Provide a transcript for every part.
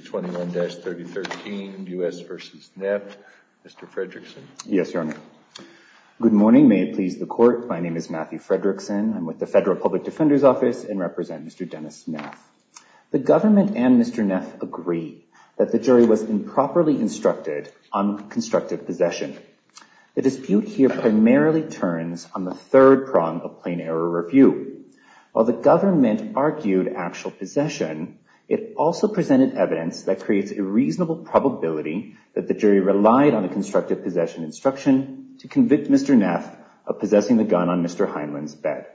21-3013 U.S. v. Neff. Mr. Fredrickson. Yes, Your Honor. Good morning. May it please the court. My name is Matthew Fredrickson. I'm with the Federal Public Defender's Office and represent Mr. Dennis Neff. The government and Mr. Neff agree that the jury was improperly instructed on constructive possession. The dispute here primarily turns on the third prong of plain error review. While the government argued actual possession, it also presented evidence that creates a reasonable probability that the jury relied on a constructive possession instruction to convict Mr. Neff of possessing the gun on Mr. Heinlein's bed.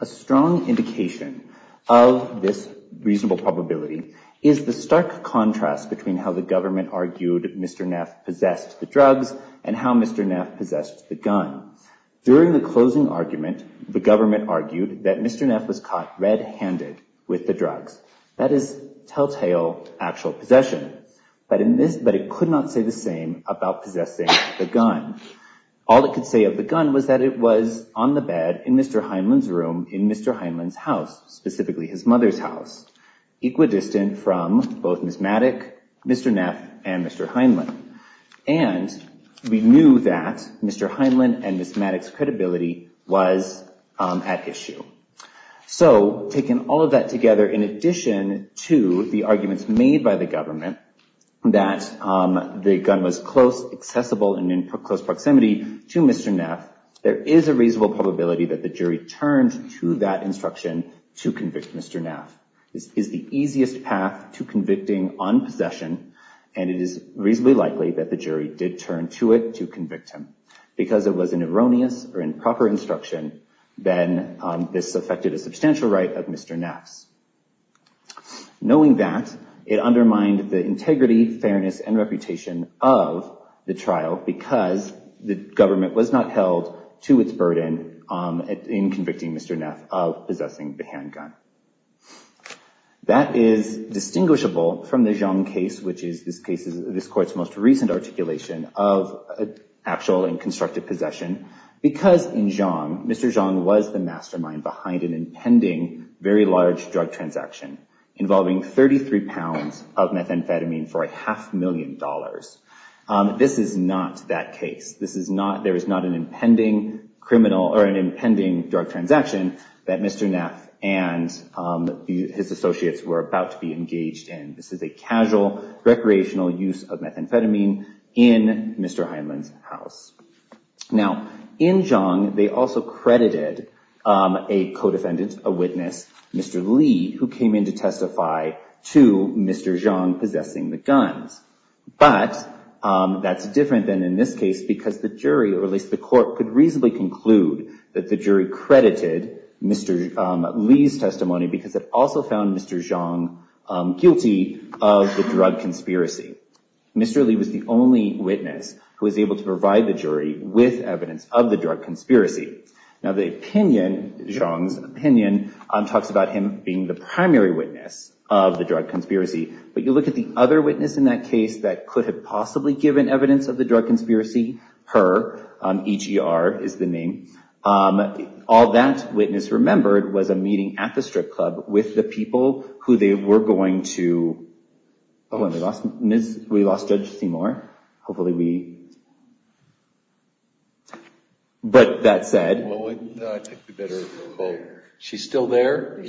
A strong indication of this reasonable probability is the stark contrast between how the government argued Mr. Neff possessed the drugs and how Mr. Neff possessed the gun. During the closing argument, the government argued that Mr. Neff was caught red-handed with the drugs. That is telltale actual possession. But it could not say the same about possessing the gun. All it could say of the gun was that it was on the bed in Mr. Heinlein's room in Mr. Heinlein's house, specifically his mother's house, equidistant from both Ms. Maddox, Mr. Neff, and Mr. Heinlein. And we knew that Mr. Heinlein and Ms. Maddox's credibility was at issue. So, taking all of that together, in addition to the arguments made by the government that the gun was close, accessible, and in close proximity to Mr. Neff, there is a reasonable probability that the jury turned to that instruction to convict Mr. Neff. This is the easiest path to convicting on possession and it is reasonably likely that the jury did turn to it to convict him. Because it was an erroneous or improper instruction, then this affected a substantial right of Mr. Neff's. Knowing that, it undermined the integrity, fairness, and reputation of the trial because the government was not held to its burden in convicting Mr. Neff of possessing the this court's most recent articulation of actual and constructive possession. Because in Xiong, Mr. Xiong was the mastermind behind an impending, very large drug transaction, involving 33 pounds of methamphetamine for a half million dollars. This is not that case. This is not, there is not an impending criminal or an impending drug transaction that Mr. Neff and his associates were about to be engaged in. This is a casual, recreational use of methamphetamine in Mr. Heinlein's house. Now, in Xiong, they also credited a co-defendant, a witness, Mr. Li, who came in to testify to Mr. Xiong possessing the guns. But that's different than in this case because the jury, or at least the court, could reasonably conclude that the jury credited Mr. Li's testimony because it also found Mr. Xiong guilty of the drug conspiracy. Mr. Li was the only witness who was able to provide the jury with evidence of the drug conspiracy. Now, the opinion, Xiong's opinion, talks about him being the primary witness of the drug conspiracy. But you look at the other witness in that case that could have possibly given evidence of the drug conspiracy, her, E.G.R. is the name. All that witness remembered was a meeting at the strip club with the people who they were going to, oh, we lost Judge Seymour. Hopefully we, but that said, she's still there?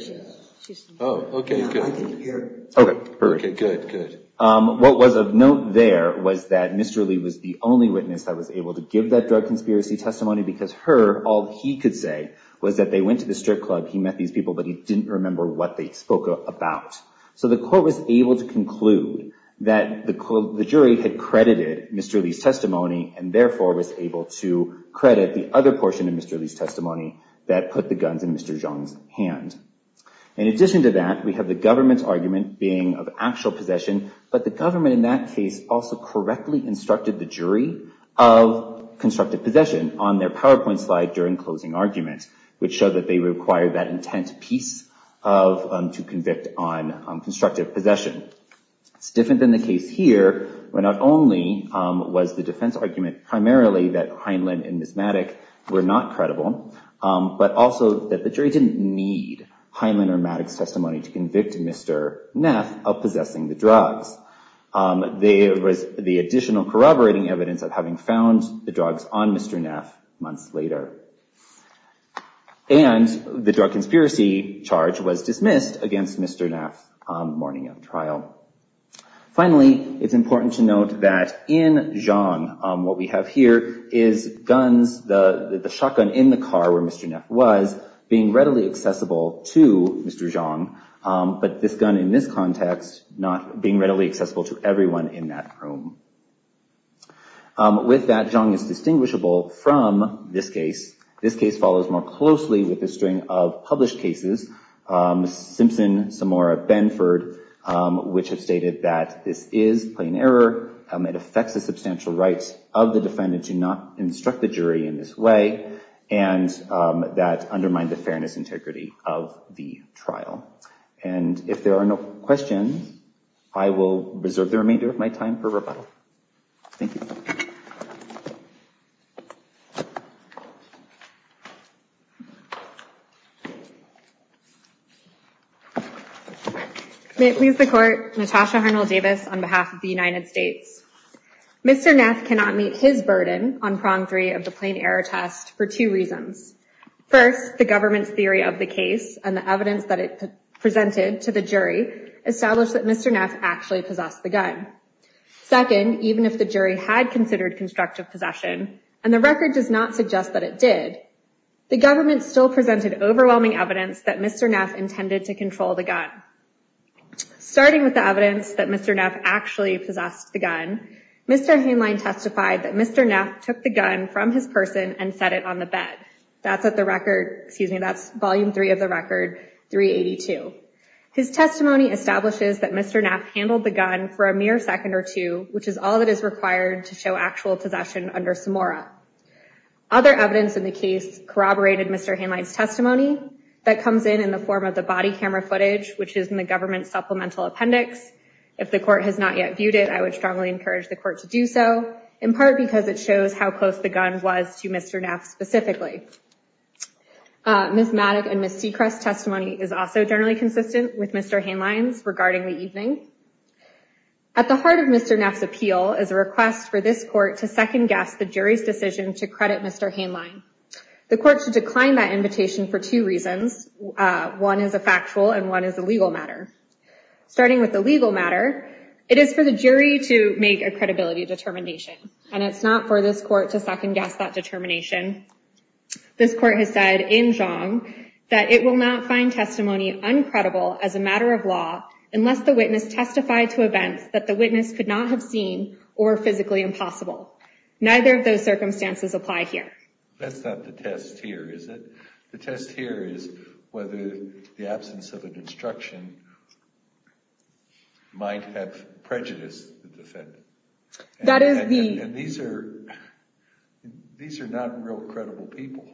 Oh, okay, good. Okay, good, good. What was of note there was that Mr. Li was the only witness that was able to give that drug conspiracy testimony because her, all he could say was that they went to the strip club, he met these people, but he didn't remember what they spoke about. So the court was able to conclude that the jury had credited Mr. Li's testimony and therefore was able to credit the other portion of Mr. Li's testimony that put the guns in Mr. Xiong's hand. In addition to that, we have the government's argument being of actual possession, but the government in that case also correctly instructed the jury of constructive possession on their PowerPoint slide during closing arguments, which showed that they required that intent piece of to convict on constructive possession. It's different than the case here, where not only was the defense argument primarily that Heinlein and Ms. Maddox were not credible, but also that the jury didn't need Heinlein or Maddox's testimony to convict Mr. Neff of possessing the drugs. There was the additional corroborating evidence of having found the drugs on Mr. Neff months later. And the drug conspiracy charge was dismissed against Mr. Neff on morning of trial. Finally, it's important to note that in Xiong, what we have here is guns, the shotgun in the car where Mr. Neff was, being readily accessible to Mr. Xiong, but this gun in this context not being readily accessible to everyone in that room. With that, Xiong is distinguishable from this case. This case follows more closely with a string of published cases, Simpson, Samora, Benford, which have stated that this is plain error. It affects the substantial rights of the defendant to not instruct the jury in this way, and that undermined the fairness integrity of the trial. And if there are no questions, I will reserve the remainder of my time for rebuttal. Thank you. May it please the court, Natasha Harnell-Davis on behalf of the United States. Mr. Neff cannot meet his burden on prong three of the plain error test for two reasons. First, the government's theory of the case and the evidence that it presented to the jury established that Mr. Neff actually possessed the gun. Second, even if the jury had considered constructive possession, and the record does not suggest that it did, the government still presented overwhelming evidence that Mr. Neff intended to control the gun. Starting with the evidence that Mr. Neff actually possessed the gun, Mr. Haneline testified that Mr. Neff took the gun from his person and set it on the bed. That's at the record, excuse me, that's volume three of the record, 382. His testimony establishes that Mr. Neff handled the gun for a week, and that's all that is required to show actual possession under Samora. Other evidence in the case corroborated Mr. Haneline's testimony that comes in in the form of the body camera footage, which is in the government's supplemental appendix. If the court has not yet viewed it, I would strongly encourage the court to do so, in part because it shows how close the gun was to Mr. Neff specifically. Ms. Maddock and Ms. Seacrest's testimony is also generally consistent with Mr. Haneline's regarding the evening. At the heart of Mr. Neff's appeal is a request for this court to second-guess the jury's decision to credit Mr. Haneline. The court should decline that invitation for two reasons. One is a factual and one is a legal matter. Starting with the legal matter, it is for the jury to make a credibility determination, and it's not for this court to second-guess that determination. This court has said in Zhang that it will not find testimony uncredible as a matter of law unless the witness testified to events that the witness could not have seen or physically impossible. Neither of those circumstances apply here. That's not the test here, is it? The test here is whether the absence of an instruction might have prejudiced the defendant. And these are not real credible people.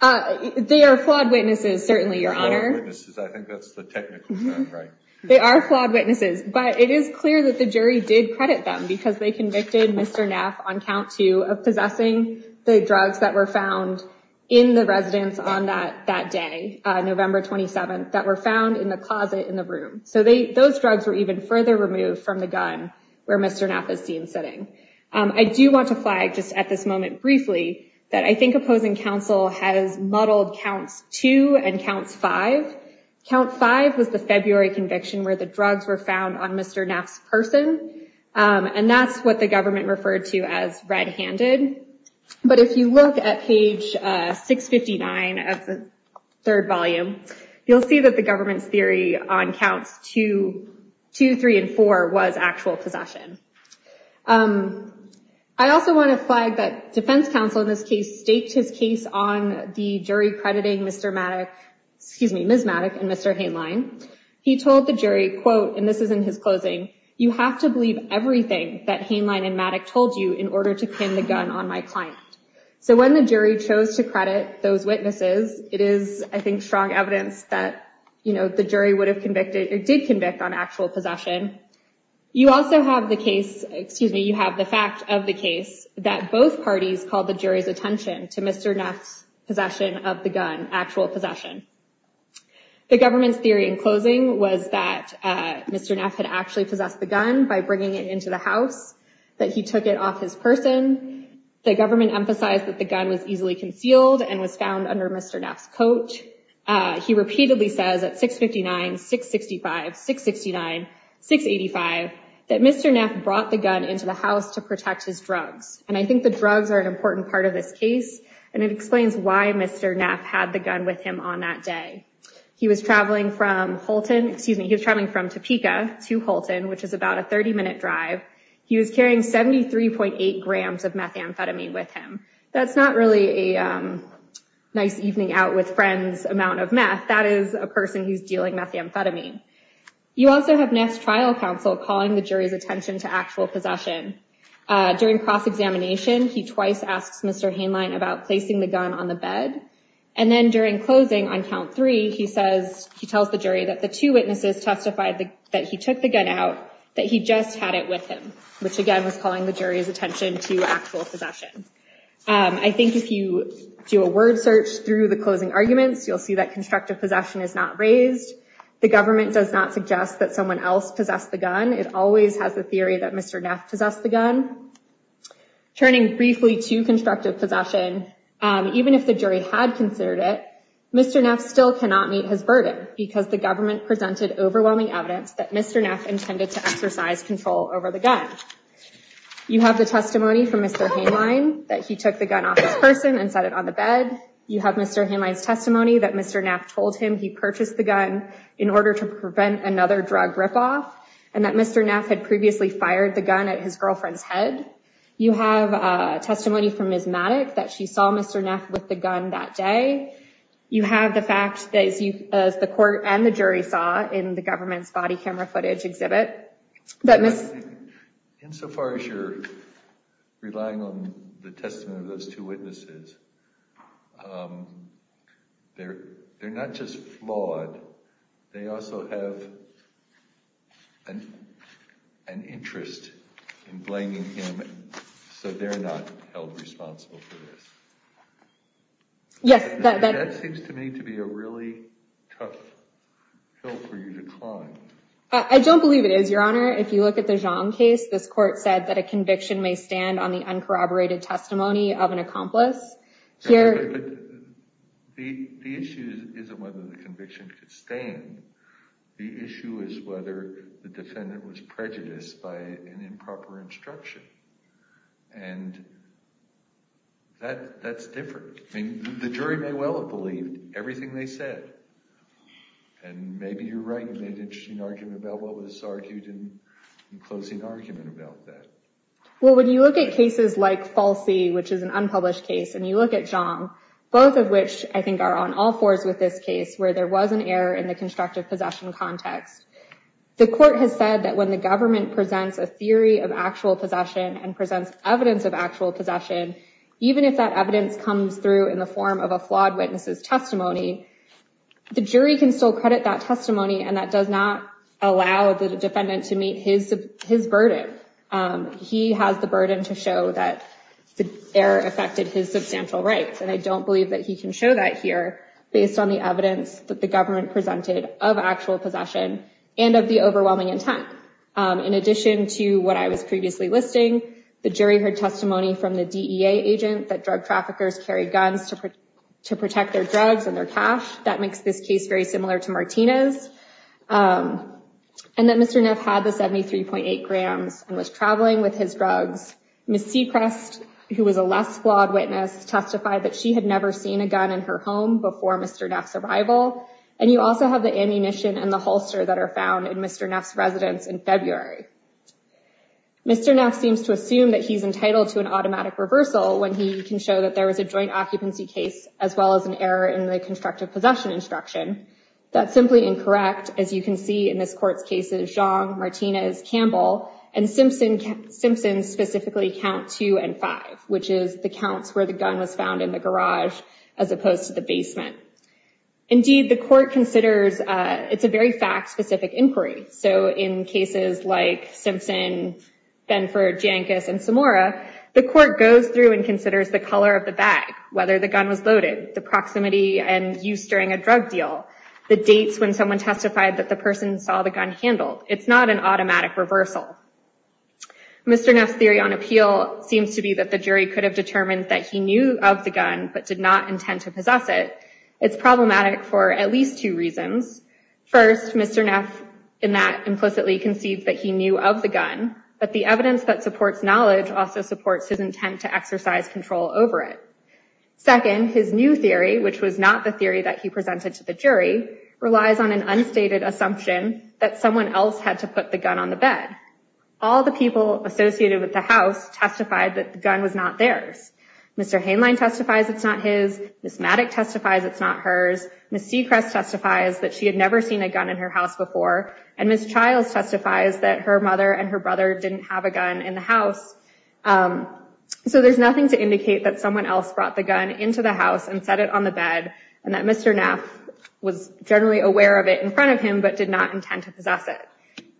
They are flawed witnesses, certainly, Your Honor. I think that's the technical term, right? They are flawed witnesses, but it is clear that the jury did credit them because they convicted Mr. Neff on count two of possessing the drugs that were found in the residence on that day, November 27th, that were found in the closet in the room. So those drugs were even further removed from the gun where Mr. Neff is seen sitting. I do want to flag just at this moment briefly that I think opposing counsel has muddled counts two and counts five. Count five was the February conviction where the drugs were found on Mr. Neff's person, and that's what the government referred to as red-handed. But if you look at page 659 of the third volume, you'll see that the government's theory on counts two, three, and four was actual possession. I also want to flag that defense counsel in this case staked his case on the jury crediting Mr. Maddock, excuse me, Ms. Maddock and Mr. Hainline. He told the jury, quote, and this is in his closing, you have to believe everything that Hainline and Maddock told you in order to pin the gun on my client. So when the jury chose to credit those witnesses, it is, I think, strong evidence that the jury would have convicted or did convict on actual possession. You also have the case, that both parties called the jury's attention to Mr. Neff's possession of the gun, actual possession. The government's theory in closing was that Mr. Neff had actually possessed the gun by bringing it into the house, that he took it off his person. The government emphasized that the gun was easily concealed and was found under Mr. Neff's coat. He repeatedly says at 659, 665, 669, 685, that Mr. Neff brought the gun into the house to protect his drugs. And I think the drugs are an important part of this case and it explains why Mr. Neff had the gun with him on that day. He was traveling from Holton, excuse me, he was traveling from Topeka to Holton, which is about a 30-minute drive. He was carrying 73.8 grams of methamphetamine with him. That's not really a nice evening out with friends amount of meth. That is a person who's dealing methamphetamine. You also have Neff's trial counsel calling the jury's attention to actual possession. During cross-examination, he twice asks Mr. Haneline about placing the gun on the bed. And then during closing on count three, he tells the jury that the two witnesses testified that he took the gun out, that he just had it with him, which again was calling the jury's attention to actual possession. I think if you do a word search through the closing arguments, you'll see that constructive possession is not raised. The government does not suggest that someone else possessed the gun. It always has the theory that Mr. Neff possessed the gun. Turning briefly to constructive possession, even if the jury had considered it, Mr. Neff still cannot meet his burden because the government presented overwhelming evidence that Mr. Neff intended to exercise control over the gun. You have the testimony from Mr. Haneline that he took the that Mr. Neff told him he purchased the gun in order to prevent another drug rip-off, and that Mr. Neff had previously fired the gun at his girlfriend's head. You have a testimony from Ms. Maddox that she saw Mr. Neff with the gun that day. You have the fact that, as the court and the jury saw in the government's body camera footage exhibit, that Ms... Insofar as you're relying on the testimony of those two witnesses, they're not just flawed. They also have an interest in blaming him, so they're not held responsible for this. Yes. That seems to me to be a really tough hill for you to climb. I don't believe it is, Your Honor. If you look at the Zhang case, this court said that a conviction may stand on the uncorroborated testimony of an accomplice. Here... The issue isn't whether the conviction could stand. The issue is whether the defendant was prejudiced by an improper instruction, and that's different. The jury may well have believed everything they said, and maybe you're right. You made an interesting argument about what was wrong. When you look at cases like Falsi, which is an unpublished case, and you look at Zhang, both of which I think are on all fours with this case, where there was an error in the constructive possession context, the court has said that when the government presents a theory of actual possession and presents evidence of actual possession, even if that evidence comes through in the form of a flawed witness's testimony, the jury can still credit that burden to show that the error affected his substantial rights. And I don't believe that he can show that here based on the evidence that the government presented of actual possession and of the overwhelming intent. In addition to what I was previously listing, the jury heard testimony from the DEA agent that drug traffickers carry guns to protect their drugs and their cash. That makes this case very similar to Martina's. And that Mr. Neff had the 73.8 grams and was Ms. Sechrest, who was a less flawed witness, testified that she had never seen a gun in her home before Mr. Neff's arrival. And you also have the ammunition and the holster that are found in Mr. Neff's residence in February. Mr. Neff seems to assume that he's entitled to an automatic reversal when he can show that there was a joint occupancy case as well as an error in the constructive possession instruction. That's simply incorrect. As you can see in this court's cases, Jean, Martina's, Campbell, and Simpson's specifically count two and five, which is the counts where the gun was found in the garage as opposed to the basement. Indeed, the court considers it's a very fact-specific inquiry. So in cases like Simpson, Benford, Jankis, and Samora, the court goes through and considers the color of the bag, whether the gun was loaded, the proximity and use during a drug deal, the dates when someone testified that the person saw the gun handled. It's not an automatic reversal. Mr. Neff's theory on appeal seems to be that the jury could have determined that he knew of the gun but did not intend to possess it. It's problematic for at least two reasons. First, Mr. Neff in that implicitly concedes that he knew of the gun, but the evidence that supports knowledge also supports his intent to exercise control over it. Second, his new theory, which was not the theory that he presented to the jury, relies on an unstated assumption that someone else had to put the gun on the bed. All the people associated with the house testified that the gun was not theirs. Mr. Haneline testifies it's not his. Ms. Maddock testifies it's not hers. Ms. Sechrest testifies that she had never seen a gun in her house before. And Ms. Childs testifies that her mother and her brother didn't have a gun in the house. So there's nothing to indicate that someone else brought the generally aware of it in front of him but did not intend to possess it.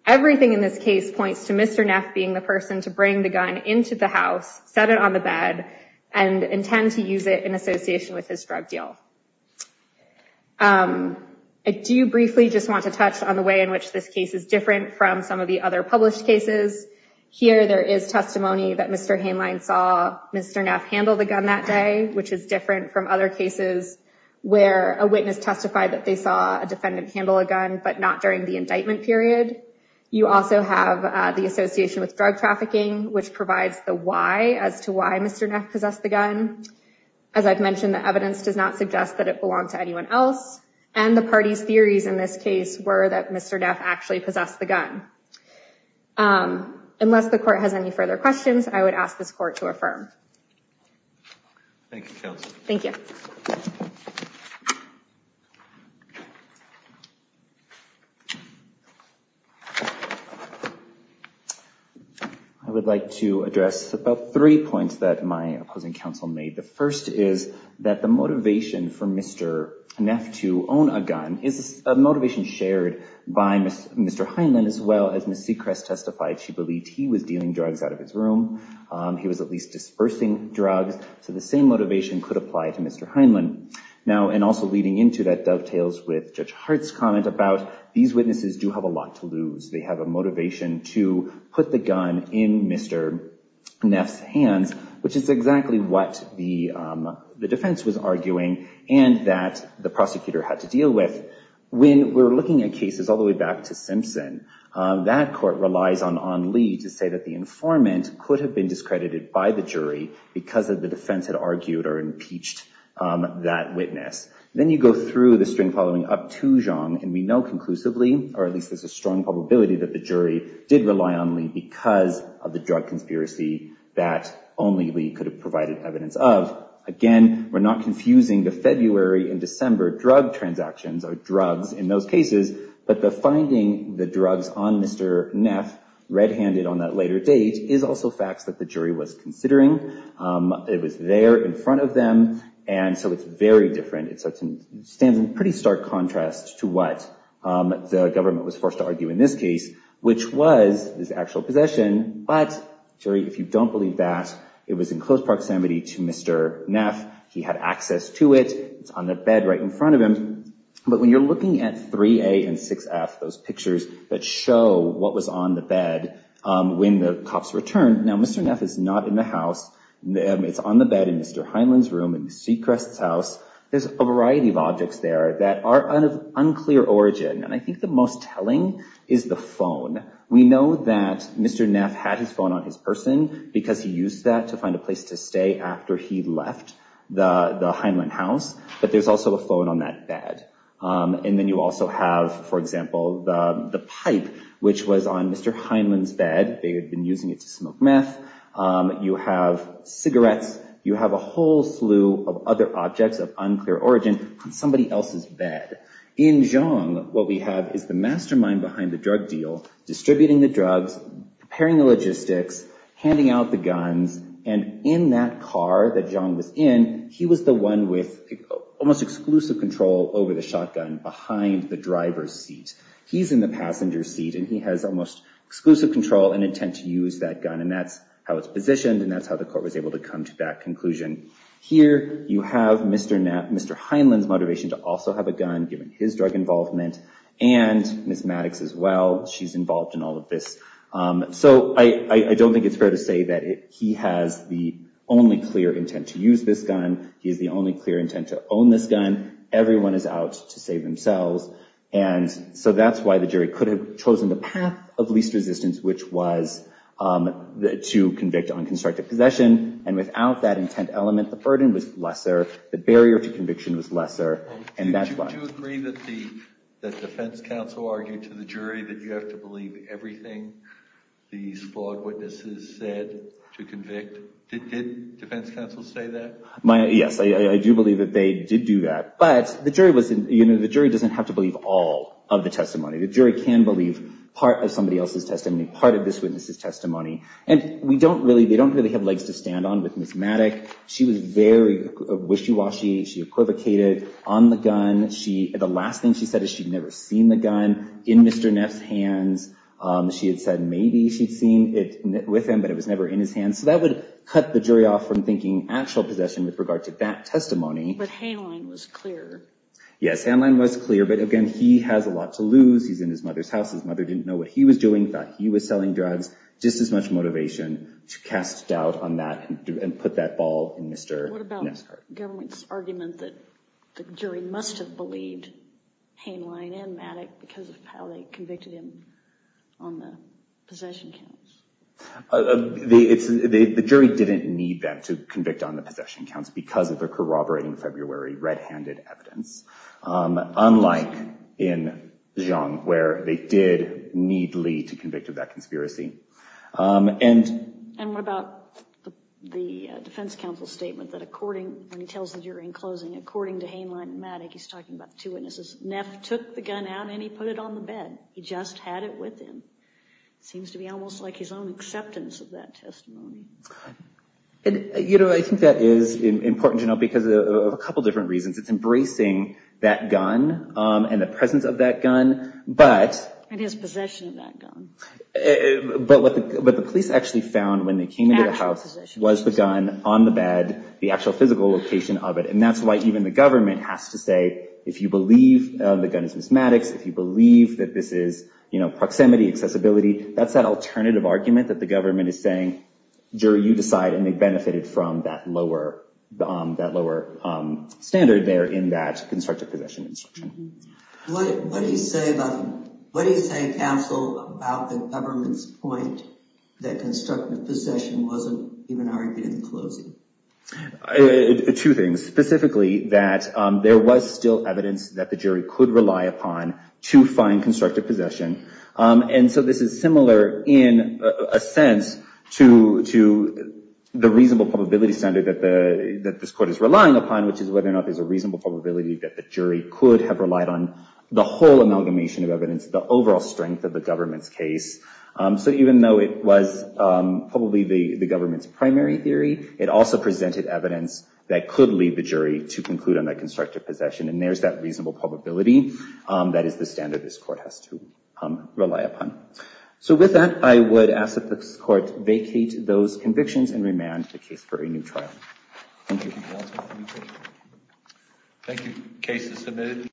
Everything in this case points to Mr. Neff being the person to bring the gun into the house, set it on the bed, and intend to use it in association with his drug deal. I do briefly just want to touch on the way in which this case is different from some of the other published cases. Here there is testimony that Mr. Haneline saw Mr. Neff handle the gun that day, which is different from other cases where a witness testified that they saw a defendant handle a gun but not during the indictment period. You also have the association with drug trafficking, which provides the why as to why Mr. Neff possessed the gun. As I've mentioned, the evidence does not suggest that it belonged to anyone else. And the party's theories in this case were that Mr. Neff actually possessed the gun. Unless the court has any further questions, I would ask this court to affirm. Thank you, counsel. Thank you. I would like to address about three points that my opposing counsel made. The first is that the motivation for Mr. Neff to own a gun is a motivation shared by Mr. Haneline, as well as Ms. Sechrest testified. She believed he was dealing drugs out of his room. He was at least dispersing drugs. So the same motivation could apply to Mr. Haneline. Now, and also leading into that dovetails with Judge Hart's comment about these witnesses do have a lot to lose. They have a motivation to put the gun in Mr. Neff's hands, which is exactly what the defense was arguing and that the prosecutor had to deal with. When we're looking at cases all the way back to Simpson, that court relies on Lee to say that the informant could have been discredited by the jury because of the defense had argued or impeached that witness. Then you go through the string following up to Zhang, and we know conclusively, or at least there's a strong probability that the jury did rely on Lee because of the drug conspiracy that only Lee could have provided evidence of. Again, we're not confusing the February and December drug transactions or finding the drugs on Mr. Neff red-handed on that later date is also facts that the jury was considering. It was there in front of them, and so it's very different. It stands in pretty stark contrast to what the government was forced to argue in this case, which was his actual possession. But, jury, if you don't believe that, it was in close proximity to Mr. Neff. He had access to it. It's on the bed right in front of him. But when you're looking at 3A and 6F, those pictures that show what was on the bed when the cops returned, now Mr. Neff is not in the house. It's on the bed in Mr. Heinlein's room, in Ms. Seacrest's house. There's a variety of objects there that are of unclear origin, and I think the most telling is the phone. We know that Mr. Neff had his phone on his person because he used that to find a place to stay after he left the Heinlein house, but there's also a phone on that bed. And then you also have, for example, the pipe, which was on Mr. Heinlein's bed. They had been using it to smoke meth. You have cigarettes. You have a whole slew of other objects of unclear origin on somebody else's bed. In Zhang, what we have is the mastermind behind the drug deal, distributing the drugs, preparing almost exclusive control over the shotgun behind the driver's seat. He's in the passenger seat, and he has almost exclusive control and intent to use that gun, and that's how it's positioned, and that's how the court was able to come to that conclusion. Here you have Mr. Heinlein's motivation to also have a gun, given his drug involvement, and Ms. Maddox as well. She's involved in all of this. So I don't think it's fair to say that he has the only clear intent to use this gun. He has the only clear intent to own this gun. Everyone is out to save themselves, and so that's why the jury could have chosen the path of least resistance, which was to convict on constructive possession, and without that intent element, the burden was lesser. The barrier to conviction was lesser, and that's why. Do you agree that the defense counsel argued to the jury that you have to believe everything these flawed witnesses said to convict? Did defense counsel say that? Yes, I do believe that they did do that, but the jury doesn't have to believe all of the testimony. The jury can believe part of somebody else's testimony, part of this witness's testimony, and they don't really have legs to stand on with Ms. Maddox. She was very wishy-washy. She equivocated on the gun. The last thing she said is she'd never seen the gun in Mr. Neff's hands. She had said maybe she'd seen it with him, but it was never in his hands, so that would cut the jury off from thinking actual possession with regard to that testimony. But Haneline was clear. Yes, Haneline was clear, but again, he has a lot to lose. He's in his mother's house. His mother didn't know what he was doing, thought he was selling drugs. Just as much motivation to cast doubt on that and put that ball in Mr. Neff's court. What about the government's argument that the jury must have believed Haneline and Maddox because of how they convicted him on the possession counts? The jury didn't need them to convict on the possession counts because of their corroborating February red-handed evidence, unlike in Zhang where they did need Lee to convict of that conspiracy. And what about the defense counsel's statement that according, when he tells the jury in closing, according to Haneline and Maddox, he's talking about the two witnesses, Neff took the gun out and he put it on the bed. He just had it with him. It seems to be almost like his own acceptance of that testimony. You know, I think that is important to note because of a couple different reasons. It's embracing that gun and the presence of that gun, but... And his possession of that gun. But what the police actually found when they came into the house was the gun on the bed, the actual physical location of it. And that's why even the government has to say, if you believe the gun is Ms. Maddox, if you believe that this is, you know, proximity, accessibility, that's that alternative argument that the government is saying, jury, you decide, and they benefited from that lower standard there in that constructive possession instruction. What do you say about, what do you say, counsel, about the government's point that constructive possession wasn't even argued in closing? Two things. Specifically, that there was still evidence that the jury could rely upon to find constructive possession. And so this is similar in a sense to the reasonable probability standard that the, that this court is relying upon, which is whether or not there's a reasonable probability that the jury could have relied on the whole amalgamation of evidence, the overall strength of the government's case. So even though it was probably the government's primary theory, it also presented evidence that could lead the jury to conclude on that constructive possession. And there's that reasonable probability that is the standard this court has to rely upon. So with that, I would ask that this court vacate those convictions and remand the case for a new trial. Thank you. Thank you. Case is submitted.